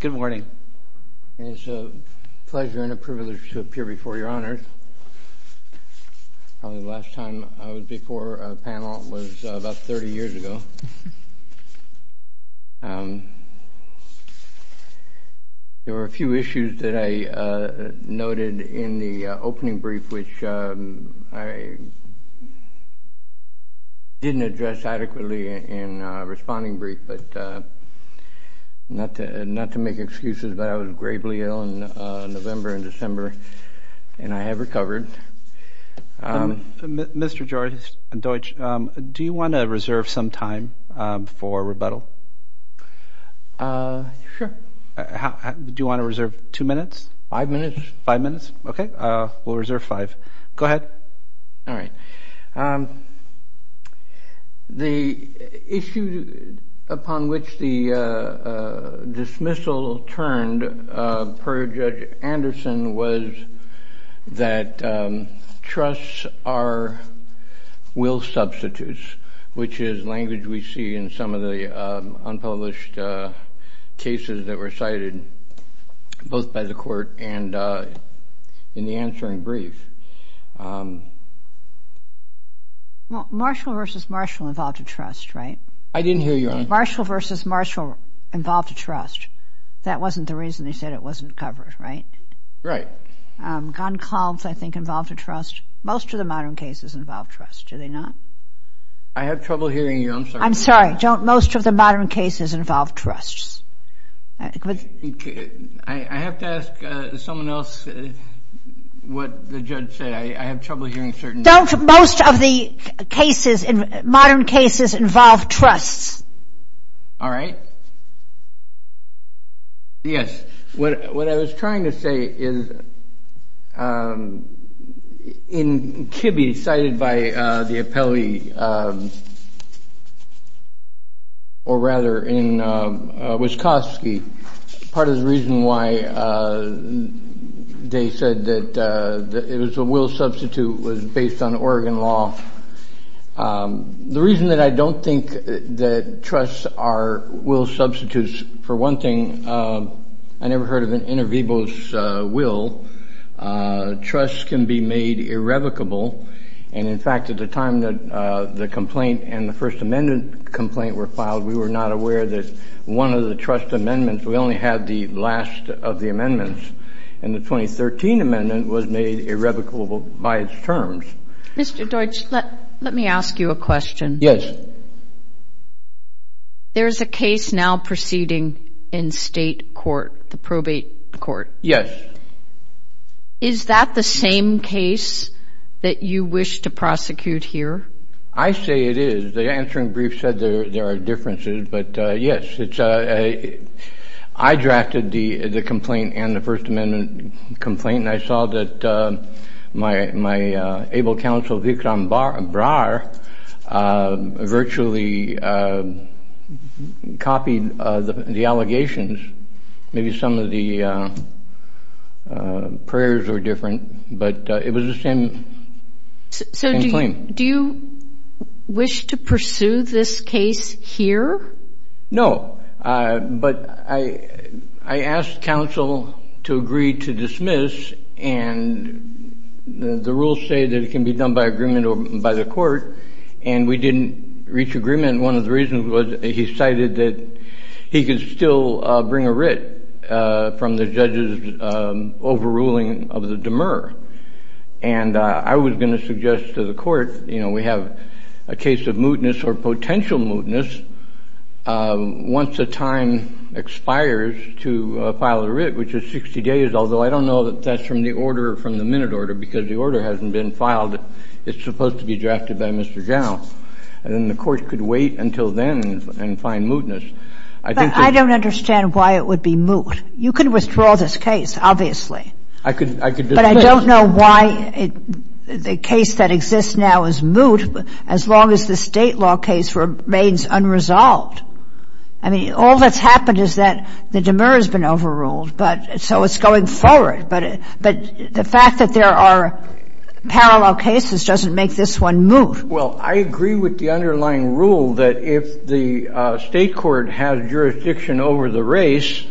Good morning. It's a pleasure and a privilege to appear before Your Honors. Probably the last time I was before a panel was about 30 years ago. There were a few issues that I noted in the opening brief, which I didn't address adequately in a responding brief, but not to make excuses, but I was gravely ill in November and December and I have recovered. Mr. Deutsch, do you want to reserve some time for rebuttal? Sure. Do you want to reserve two minutes? Five minutes. Five minutes? Okay, we'll reserve five. Go ahead. The issue upon which the dismissal turned per Judge Anderson was that trusts are will substitutes, which is language we see in some of the unpublished cases that were cited both by the court and in the answering brief. Well, Marshall v. Marshall involved a trust, right? I didn't hear Your Honor. Marshall v. Marshall involved a trust. That wasn't the reason they said it wasn't covered, right? Right. Gunn-Klotz, I think, involved a trust. Most of the modern cases involve trust, do they not? I have trouble hearing you. I'm sorry. I'm sorry. Most of the modern cases involve trusts. I have to ask someone else what the judge said. I have trouble hearing certain things. Don't most of the cases, modern cases, involve trusts? All right. Yes. What I was trying to say is in Kibbe, cited by the appellee, or rather in Wyszkowski, part of the reason why they said that it was a will substitute was based on Oregon law. The reason that I don't think that trusts are will substitutes, for one thing, I never heard of an inter vivos will. Trusts can be made irrevocable. And, in fact, at the time that the complaint and the First Amendment complaint were filed, we were not aware that one of the trust amendments, we only had the last of the amendments, and the 2013 amendment was made irrevocable by its terms. Mr. Deutsch, let me ask you a question. Yes. There's a case now proceeding in state court, the probate court. Yes. Is that the same case that you wish to prosecute here? I say it is. The answering brief said there are differences, but yes. I drafted the complaint and the First Amendment complaint, and I saw that my able counsel, Vikram Brar, virtually copied the allegations. Maybe some of the prayers were different, but it was the same claim. So do you wish to pursue this case here? No. But I asked counsel to agree to dismiss, and the rules say that it can be done by agreement or by the court, and we didn't reach agreement. One of the reasons was he cited that he could still bring a writ from the judge's overruling of the demur. And I was going to suggest to the court, you know, we have a case of mootness or potential mootness once the time expires to file a writ, which is 60 days, although I don't know that that's from the order, from the minute order, because the order hasn't been filed. It's supposed to be drafted by Mr. Jow. And then the court could wait until then and find mootness. I think that's the case. But I don't understand why it would be moot. You could withdraw this case, obviously. I could dismiss. But I don't know why the case that exists now is moot as long as the State law case remains unresolved. I mean, all that's happened is that the demur has been overruled, but so it's going forward. But the fact that there are parallel cases doesn't make this one moot. Well, I agree with the underlying rule that if the State court has jurisdiction over the race,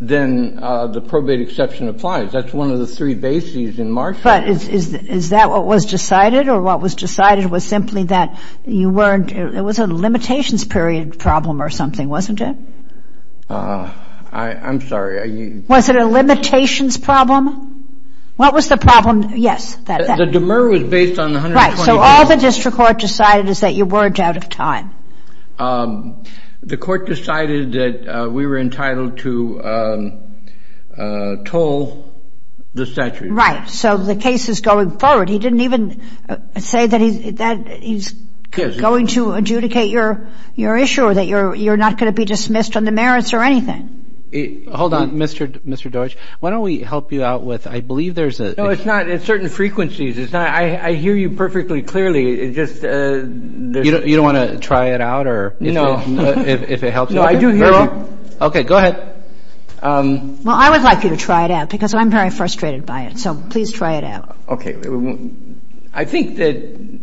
then the probate exception applies. That's one of the three bases in Marshall. But is that what was decided? Or what was decided was simply that you weren't ‑‑ it was a limitations period problem or something, wasn't it? I'm sorry. Was it a limitations problem? What was the problem? Yes. The demur was based on the 120 days. Right. So all the district court decided is that you weren't out of time. The court decided that we were entitled to toll the statute. Right. So the case is going forward. He didn't even say that he's going to adjudicate your issue or that you're not going to be dismissed on the merits or anything. Hold on, Mr. Deutsch. Why don't we help you out with ‑‑ I believe there's a ‑‑ No, it's not. It's certain frequencies. I hear you perfectly clearly. You don't want to try it out? No. If it helps you? No, I do hear you. Okay. Go ahead. Well, I would like you to try it out because I'm very frustrated by it. So please try it out. Okay. I think that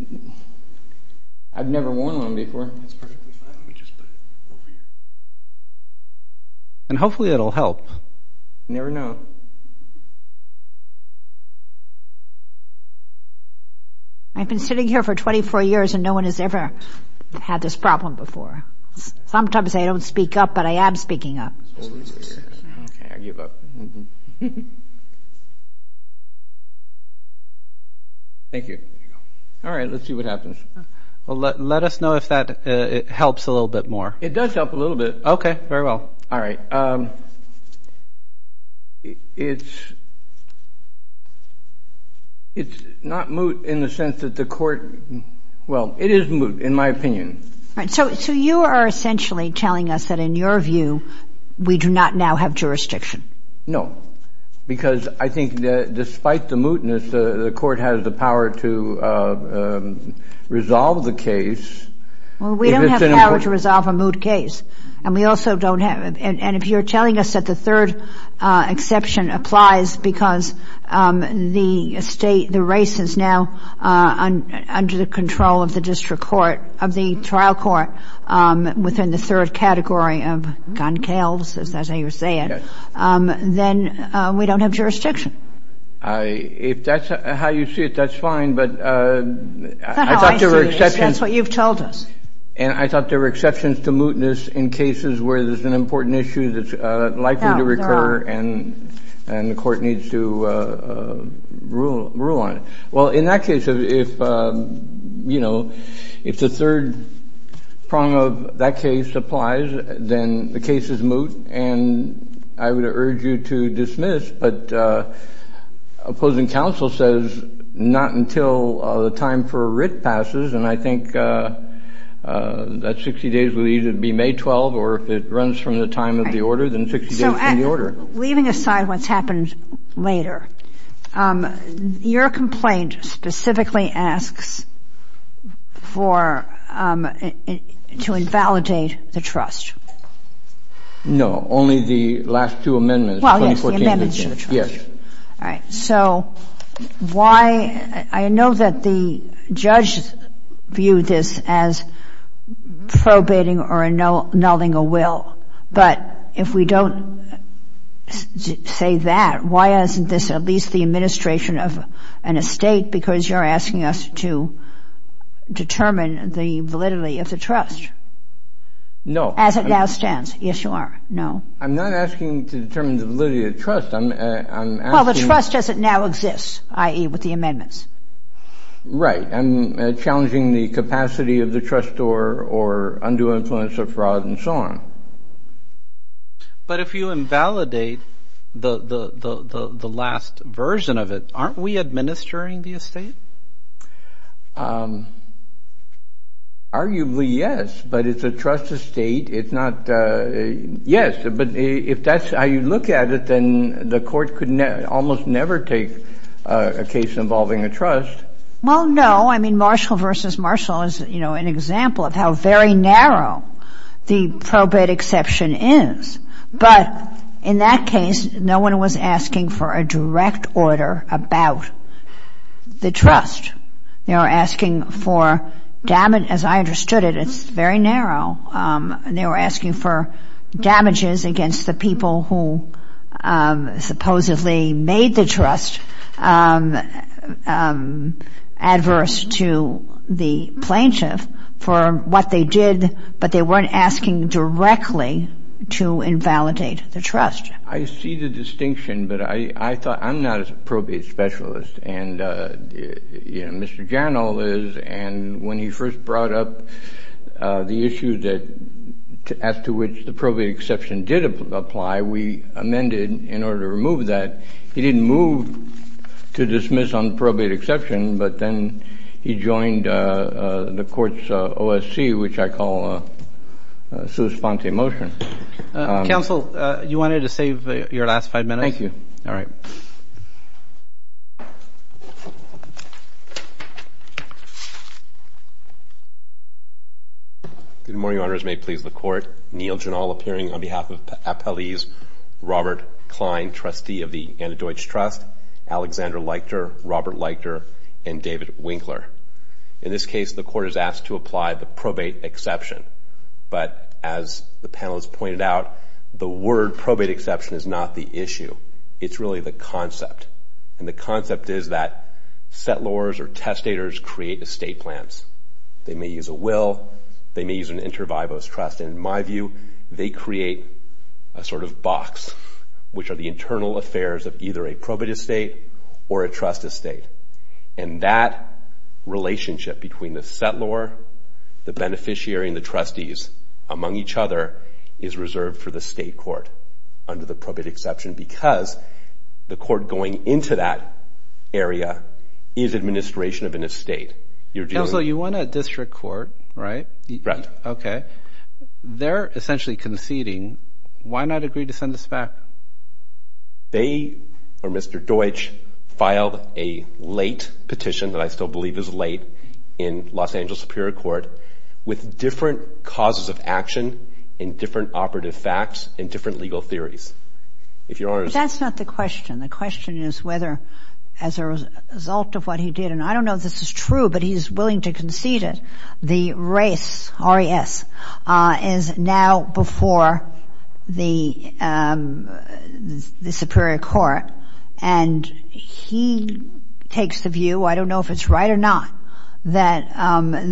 I've never worn one before. And hopefully it will help. You never know. I've been sitting here for 24 years and no one has ever had this problem before. Sometimes I don't speak up, but I am speaking up. Okay, I give up. Thank you. All right. Let's see what happens. Well, let us know if that helps a little bit more. It does help a little bit. Okay. Very well. All right. It's not moot in the sense that the court ‑‑ well, it is moot in my opinion. All right. So you are essentially telling us that in your view we do not now have jurisdiction? No. Because I think that despite the mootness, the court has the power to resolve the case. Well, we don't have power to resolve a moot case. And we also don't have ‑‑ and if you are telling us that the third exception applies because the state, the race is now under the control of the district court, of the trial court within the third category of gunkales, as I was saying, then we don't have jurisdiction. If that's how you see it, that's fine. But I thought there were exceptions. That's what you've told us. And I thought there were exceptions to mootness in cases where there's an important issue that's likely to recur and the court needs to rule on it. Well, in that case, if, you know, if the third prong of that case applies, then the case is moot. And I would urge you to dismiss. But opposing counsel says not until the time for a writ passes. And I think that 60 days will either be May 12th or if it runs from the time of the order, then 60 days from the order. So leaving aside what's happened later, your complaint specifically asks for ‑‑ to invalidate the trust. No, only the last two amendments. Well, yes, the amendments to the trust. Yes. All right. So why ‑‑ I know that the judge viewed this as probating or annulling a will. But if we don't say that, why isn't this at least the administration of an estate? Because you're asking us to determine the validity of the trust. No. As it now stands. Yes, you are. I'm not asking to determine the validity of the trust. I'm asking ‑‑ Well, the trust doesn't now exist, i.e., with the amendments. Right. I'm challenging the capacity of the trust or undue influence of fraud and so on. But if you invalidate the last version of it, aren't we administering the estate? Arguably, yes. But it's a trust estate. It's not ‑‑ yes. But if that's how you look at it, then the court could almost never take a case involving a trust. Well, no. I mean, Marshall v. Marshall is, you know, an example of how very narrow the probate exception is. But in that case, no one was asking for a direct order about the trust. They were asking for damage. As I understood it, it's very narrow. They were asking for damages against the people who supposedly made the trust adverse to the plaintiff for what they did, but they weren't asking directly to invalidate the trust. I see the distinction, but I thought ‑‑ I'm not a probate specialist. And, you know, Mr. Jarnall is. And when he first brought up the issue that ‑‑ as to which the probate exception did apply, we amended in order to remove that. He didn't move to dismiss on probate exception, but then he joined the court's OSC, which I call a sui sponte motion. Counsel, you wanted to save your last five minutes? Thank you. All right. Good morning, Your Honors. May it please the Court. Neil Jarnall appearing on behalf of Appellee's Robert Klein, trustee of the Antidote Trust, Alexander Leichter, Robert Leichter, and David Winkler. In this case, the Court is asked to apply the probate exception. But as the panelists pointed out, the word probate exception is not the issue. It's really the concept. And the concept is that settlors or testators create estate plans. They may use a will. They may use an inter vivo's trust. In my view, they create a sort of box, which are the internal affairs of either a probate estate or a trust estate. And that relationship between the settlor, the beneficiary, and the trustees, among each other, is reserved for the state court under the probate exception because the court going into that area is administration of an estate. Counsel, you want a district court, right? Correct. Okay. They're essentially conceding. Why not agree to send us back? They, or Mr. Deutsch, filed a late petition that I still believe is late in Los Angeles Superior Court with different causes of action and different operative facts and different legal theories. If Your Honor is- That's not the question. The question is whether, as a result of what he did, and I don't know if this is true, but he's willing to concede it, the race, R-E-S, is now before the Superior Court. And he takes the view, I don't know if it's right or not, that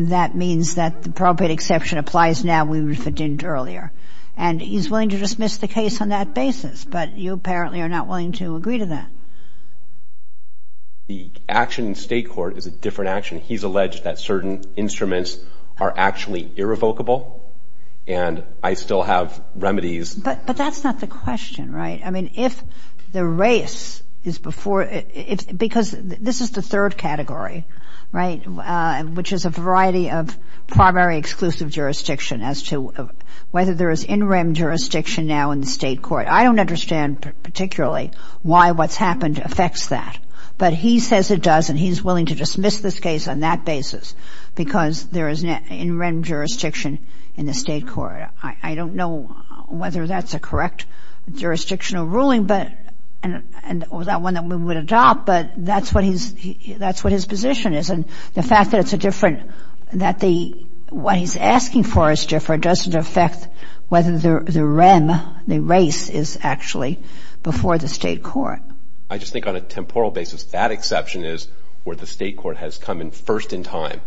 that means that the probate exception applies now. We referred to it earlier. And he's willing to dismiss the case on that basis, but you apparently are not willing to agree to that. The action in state court is a different action. He's alleged that certain instruments are actually irrevocable, and I still have remedies. But that's not the question, right? I mean, if the race is before, because this is the third category, right, which is a variety of primary exclusive jurisdiction as to whether there is in-rim jurisdiction now in the state court. I don't understand particularly why what's happened affects that. But he says it does, and he's willing to dismiss this case on that basis, because there is in-rim jurisdiction in the state court. I don't know whether that's a correct jurisdictional ruling or that one that we would adopt, but that's what his position is. And the fact that it's a different, that what he's asking for is different doesn't affect whether the rim, the race, is actually before the state court. I just think on a temporal basis that exception is where the state court has come in first in time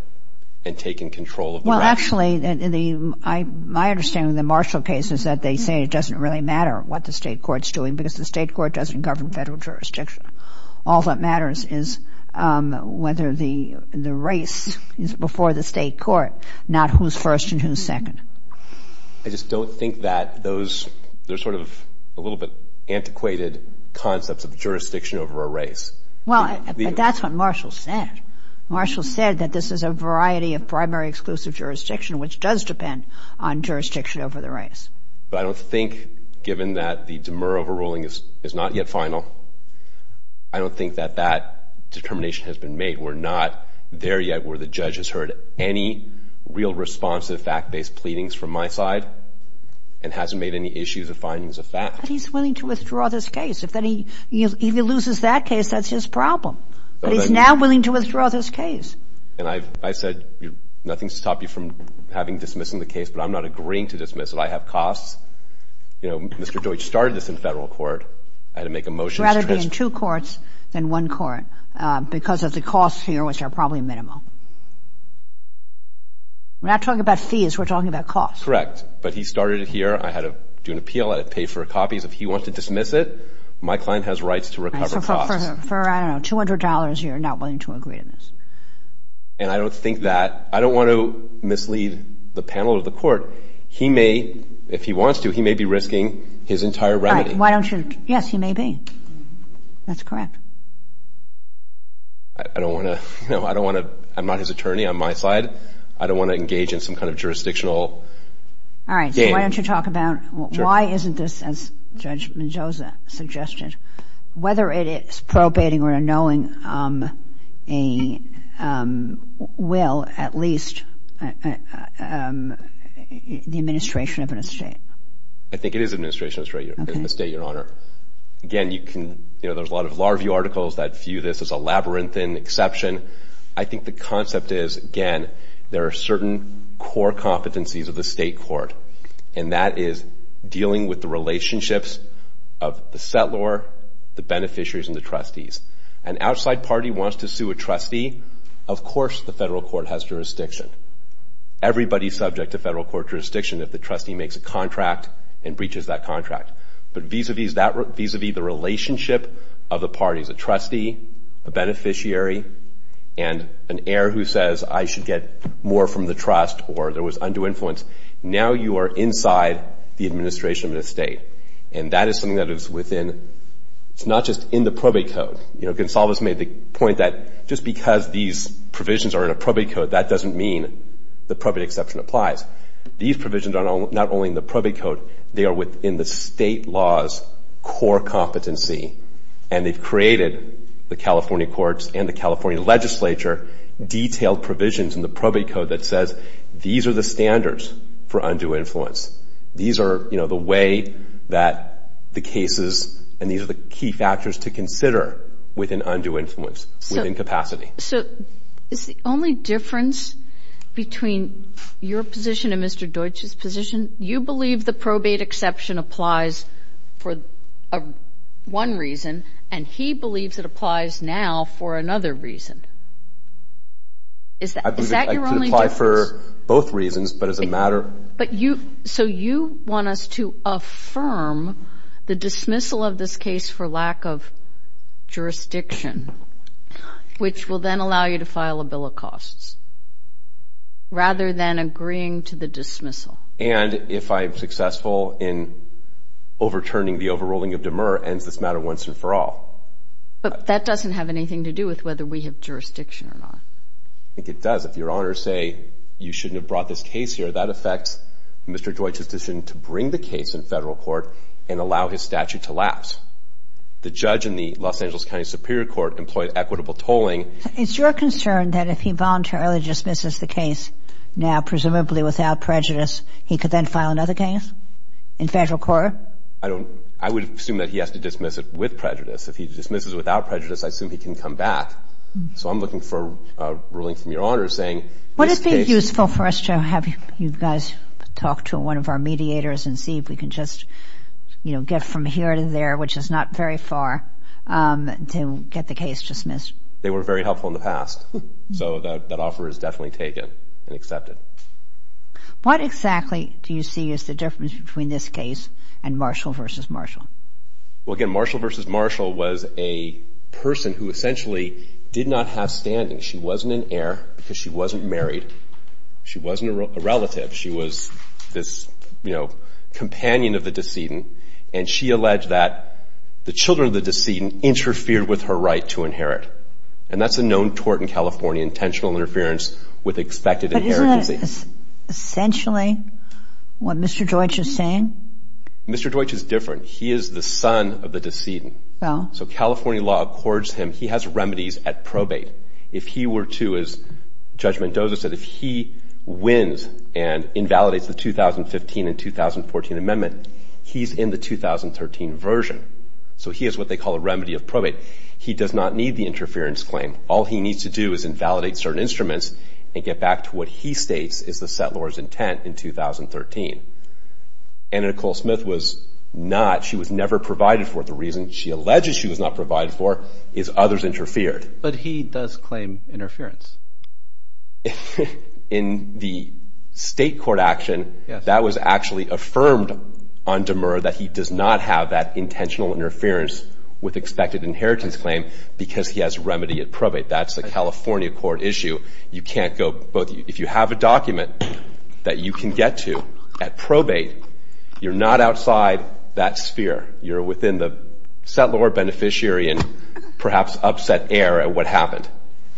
and taken control of the race. Well, actually, my understanding of the Marshall case is that they say it doesn't really matter what the state court's doing because the state court doesn't govern federal jurisdiction. All that matters is whether the race is before the state court, not who's first and who's second. I just don't think that those, they're sort of a little bit antiquated concepts of jurisdiction over a race. Well, but that's what Marshall said. Marshall said that this is a variety of primary exclusive jurisdiction, which does depend on jurisdiction over the race. But I don't think, given that the Demer overruling is not yet final, I don't think that that determination has been made. We're not there yet where the judge has heard any real responsive fact-based pleadings from my side and hasn't made any issues or findings of fact. But he's willing to withdraw this case. If he loses that case, that's his problem. But he's now willing to withdraw this case. And I've said nothing to stop you from having dismissing the case, but I'm not agreeing to dismiss it. I have costs. You know, Mr. Deutsch started this in federal court. I had to make a motion. I'd rather be in two courts than one court because of the costs here, which are probably minimal. We're not talking about fees. We're talking about costs. Correct. But he started it here. I had to do an appeal. I had to pay for copies. If he wants to dismiss it, my client has rights to recover costs. So for, I don't know, $200, you're not willing to agree to this. And I don't think that, I don't want to mislead the panel or the court. He may, if he wants to, he may be risking his entire remedy. Why don't you, yes, he may be. That's correct. I don't want to, you know, I don't want to, I'm not his attorney on my side. I don't want to engage in some kind of jurisdictional game. All right, so why don't you talk about why isn't this, as Judge Menzoza suggested, whether it is probating or unknowing a will, at least, the administration of an estate. I think it is administration of an estate, Your Honor. Again, you can, you know, there's a lot of law review articles that view this as a labyrinthine exception. I think the concept is, again, there are certain core competencies of the state court, and that is dealing with the relationships of the settlor, the beneficiaries, and the trustees. An outside party wants to sue a trustee, of course the federal court has jurisdiction. Everybody's subject to federal court jurisdiction if the trustee makes a contract and breaches that contract. But vis-a-vis the relationship of the parties, a trustee, a beneficiary, and an heir who says I should get more from the trust or there was undue influence, now you are inside the administration of an estate. And that is something that is within, it's not just in the probate code. You know, Gonsalves made the point that just because these provisions are in a probate code, that doesn't mean the probate exception applies. These provisions are not only in the probate code, they are within the state law's core competency, and they've created, the California courts and the California legislature, detailed provisions in the probate code that says these are the standards for undue influence. These are, you know, the way that the cases, and these are the key factors to consider within undue influence, within capacity. So is the only difference between your position and Mr. Deutsch's position, you believe the probate exception applies for one reason, and he believes it applies now for another reason. Is that your only difference? I believe it could apply for both reasons, but it doesn't matter. But you, so you want us to affirm the dismissal of this case for lack of jurisdiction, which will then allow you to file a bill of costs, rather than agreeing to the dismissal. And if I'm successful in overturning the overruling of Demer, ends this matter once and for all. But that doesn't have anything to do with whether we have jurisdiction or not. I think it does. If your honors say you shouldn't have brought this case here, that affects Mr. Deutsch's decision to bring the case in federal court and allow his statute to lapse. The judge in the Los Angeles County Superior Court employed equitable tolling. Is your concern that if he voluntarily dismisses the case now, presumably without prejudice, he could then file another case in federal court? I don't, I would assume that he has to dismiss it with prejudice. If he dismisses it without prejudice, I assume he can come back. So I'm looking for a ruling from your honors saying this case. Would it be useful for us to have you guys talk to one of our mediators and see if we can just get from here to there, which is not very far, to get the case dismissed? They were very helpful in the past. So that offer is definitely taken and accepted. What exactly do you see is the difference between this case and Marshall v. Marshall? Well, again, Marshall v. Marshall was a person who essentially did not have standing. She wasn't an heir because she wasn't married. She wasn't a relative. She was this, you know, companion of the decedent, and she alleged that the children of the decedent interfered with her right to inherit. And that's a known tort in California, intentional interference with expected inheritance. But isn't that essentially what Mr. Deutsch is saying? Mr. Deutsch is different. He is the son of the decedent. So California law accords him. He has remedies at probate. If he were to, as Judge Mendoza said, if he wins and invalidates the 2015 and 2014 amendment, he's in the 2013 version. So he has what they call a remedy of probate. He does not need the interference claim. All he needs to do is invalidate certain instruments and get back to what he states is the settlor's intent in 2013. And Nicole Smith was not. She was never provided for. The reason she alleges she was not provided for is others interfered. But he does claim interference. In the state court action, that was actually affirmed on Demur that he does not have that intentional interference with expected inheritance claim because he has remedy at probate. That's the California court issue. You can't go both. If you have a document that you can get to at probate, you're not outside that sphere. You're within the settlor, beneficiary, and perhaps upset air at what happened.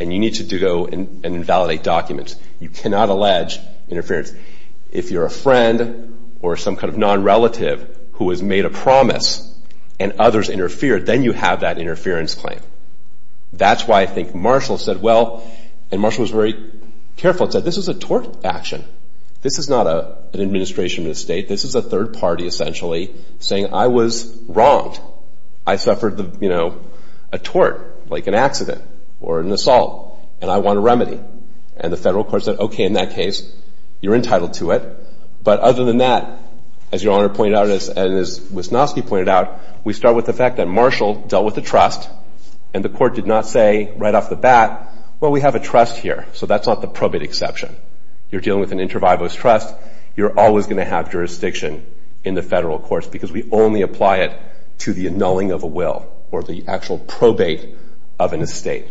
And you need to go and invalidate documents. You cannot allege interference. If you're a friend or some kind of nonrelative who has made a promise and others interfered, then you have that interference claim. That's why I think Marshall said, well, and Marshall was very careful and said, this is a tort action. This is not an administration of the state. This is a third party, essentially, saying I was wronged. I suffered a tort, like an accident or an assault, and I want a remedy. And the federal court said, okay, in that case, you're entitled to it. But other than that, as Your Honor pointed out and as Wisnowski pointed out, we start with the fact that Marshall dealt with a trust, and the court did not say right off the bat, well, we have a trust here. So that's not the probate exception. You're dealing with an inter vivos trust. You're always going to have jurisdiction in the federal courts because we only apply it to the annulling of a will or the actual probate of an estate.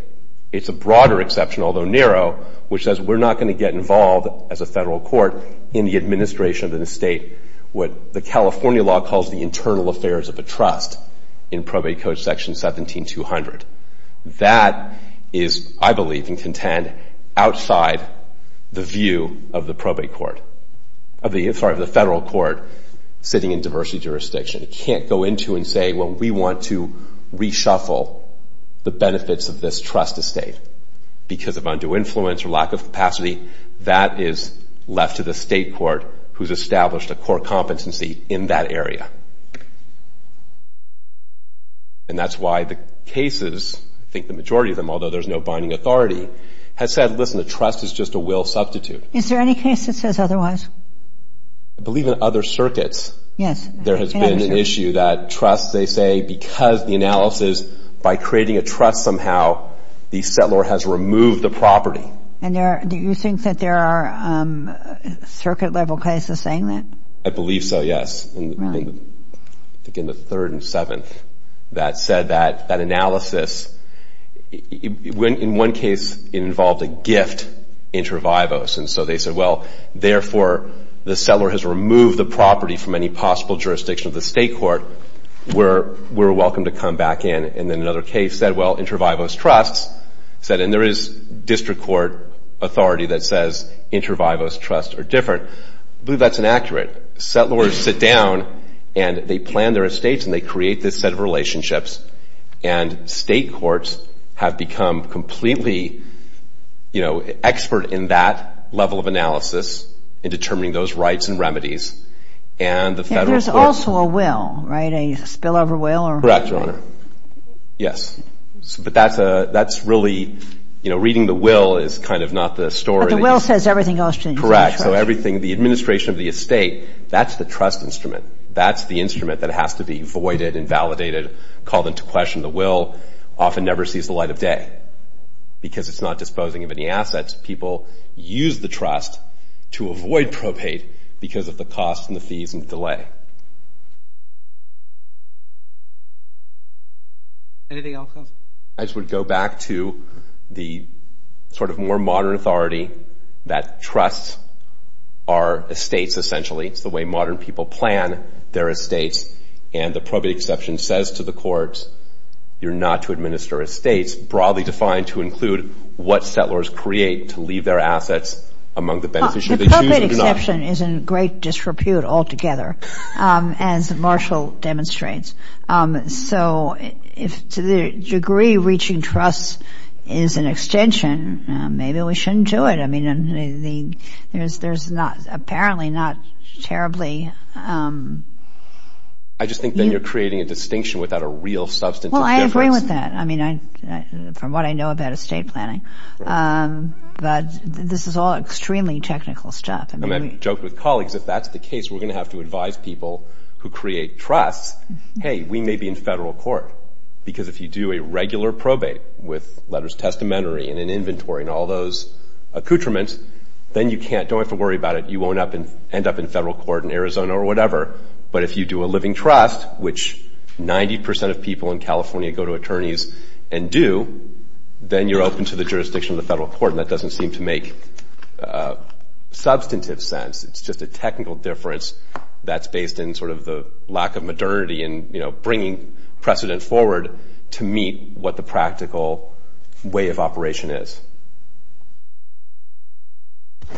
It's a broader exception, although narrow, which says we're not going to get involved, as a federal court, in the administration of an estate, what the California law calls the internal affairs of a trust in Probate Code Section 17200. That is, I believe and contend, outside the view of the federal court sitting in diversity jurisdiction. It can't go into and say, well, we want to reshuffle the benefits of this trust estate because of undue influence or lack of capacity. That is left to the state court, who's established a core competency in that area. And that's why the cases, I think the majority of them, although there's no binding authority, has said, listen, a trust is just a will substitute. Is there any case that says otherwise? I believe in other circuits. Yes. There has been an issue that trusts, they say, because the analysis, by creating a trust somehow, the settlor has removed the property. And do you think that there are circuit-level cases saying that? I believe so, yes. I think in the 3rd and 7th that said that that analysis, in one case, it involved a gift inter vivos. And so they said, well, therefore, the settlor has removed the property from any possible jurisdiction of the state court. We're welcome to come back in. And then another case said, well, inter vivos trusts said, and there is district court authority that says inter vivos trusts are different. I believe that's inaccurate. Settlors sit down, and they plan their estates, and they create this set of relationships. And state courts have become completely, you know, expert in that level of analysis in determining those rights and remedies. And the federal courts. There's also a will, right, a spillover will? Correct, Your Honor. Yes. But that's really, you know, reading the will is kind of not the story. But the will says everything else to the interest rate. Correct. And so everything, the administration of the estate, that's the trust instrument. That's the instrument that has to be voided and validated, called into question. The will often never sees the light of day because it's not disposing of any assets. People use the trust to avoid probate because of the costs and the fees and delay. Anything else? I just would go back to the sort of more modern authority that trusts are estates, essentially. It's the way modern people plan their estates. And the probate exception says to the courts, you're not to administer estates, broadly defined to include what settlers create to leave their assets among the beneficiary. The probate exception is in great disrepute altogether, as Marshall demonstrates. So if to the degree reaching trust is an extension, maybe we shouldn't do it. I mean, there's not, apparently not terribly. I just think then you're creating a distinction without a real substantive difference. Well, I agree with that. I mean, from what I know about estate planning. But this is all extremely technical stuff. And I joke with colleagues, if that's the case, we're going to have to advise people who create trusts, hey, we may be in federal court. Because if you do a regular probate with letters of testamentary and an inventory and all those accoutrements, then you can't. Don't have to worry about it. You won't end up in federal court in Arizona or whatever. But if you do a living trust, which 90 percent of people in California go to attorneys and do, then you're open to the jurisdiction of the federal court. And that doesn't seem to make substantive sense. It's just a technical difference that's based in sort of the lack of modernity and, you know, bringing precedent forward to meet what the practical way of operation is.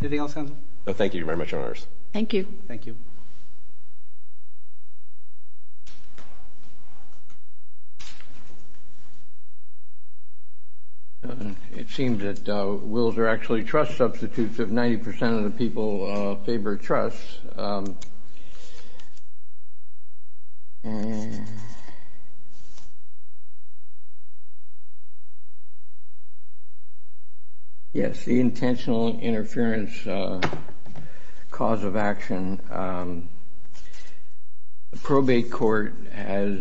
Anything else? No, thank you very much, Your Honors. Thank you. Thank you. Thank you. It seems that wills are actually trust substitutes if 90 percent of the people favor trusts. Yes. Yes, the intentional interference cause of action, the probate court has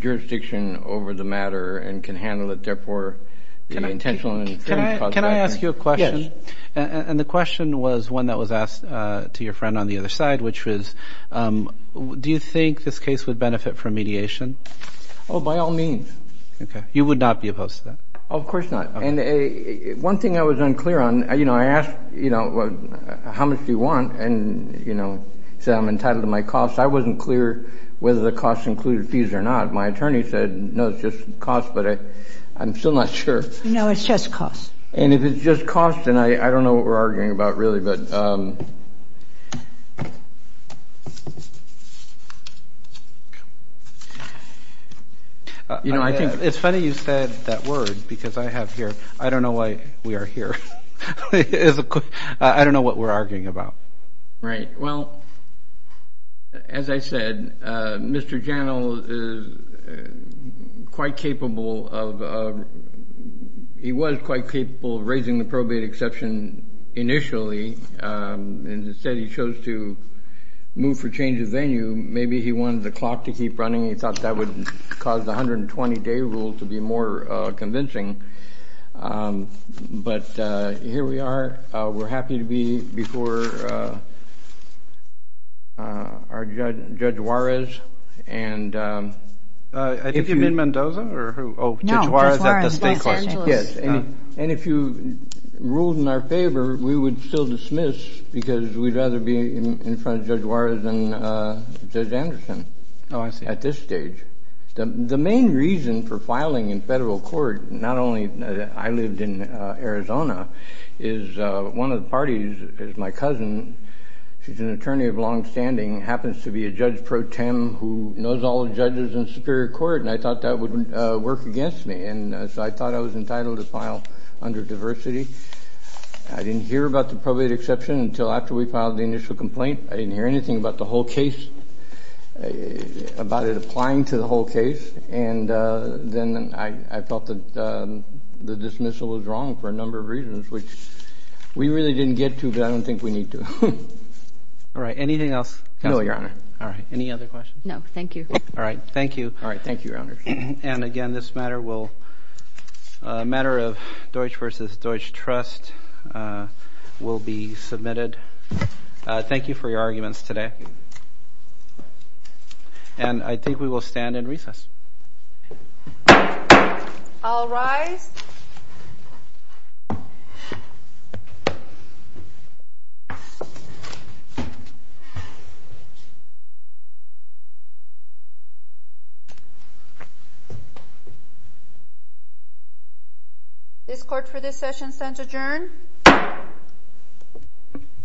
jurisdiction over the matter and can handle it. Therefore, the intentional interference cause of action. Can I ask you a question? Yes. And the question was one that was asked to your friend on the other side, which was do you think this case would benefit from mediation? Oh, by all means. Okay. You would not be opposed to that? Of course not. And one thing I was unclear on, you know, I asked, you know, how much do you want? And, you know, he said I'm entitled to my cost. I wasn't clear whether the cost included fees or not. My attorney said, no, it's just cost. But I'm still not sure. No, it's just cost. And if it's just cost, then I don't know what we're arguing about really. But, you know, I think it's funny you said that word because I have here. I don't know why we are here. I don't know what we're arguing about. Right. Well, as I said, Mr. Janel is quite capable of raising the probate exception initially. And instead he chose to move for change of venue. Maybe he wanted the clock to keep running. He thought that would cause the 120-day rule to be more convincing. But here we are. We're happy to be before our Judge Juarez. I think you mean Mendoza or who? No, Judge Juarez, Los Angeles. And if you ruled in our favor, we would still dismiss because we'd rather be in front of Judge Juarez than Judge Anderson at this stage. The main reason for filing in federal court, not only that I lived in Arizona, is one of the parties is my cousin. She's an attorney of longstanding, happens to be a Judge pro tem who knows all the judges in Superior Court. And I thought that would work against me. And so I thought I was entitled to file under diversity. I didn't hear about the probate exception until after we filed the initial complaint. I didn't hear anything about the whole case, about it applying to the whole case. And then I felt that the dismissal was wrong for a number of reasons, which we really didn't get to, but I don't think we need to. All right. Anything else? No, Your Honor. All right. Any other questions? No, thank you. All right. Thank you. All right. Thank you, Your Honor. And again, this matter of Deutsch versus Deutsch trust will be submitted. Thank you for your arguments today. And I think we will stand in recess. All rise. This court for this session stands adjourned.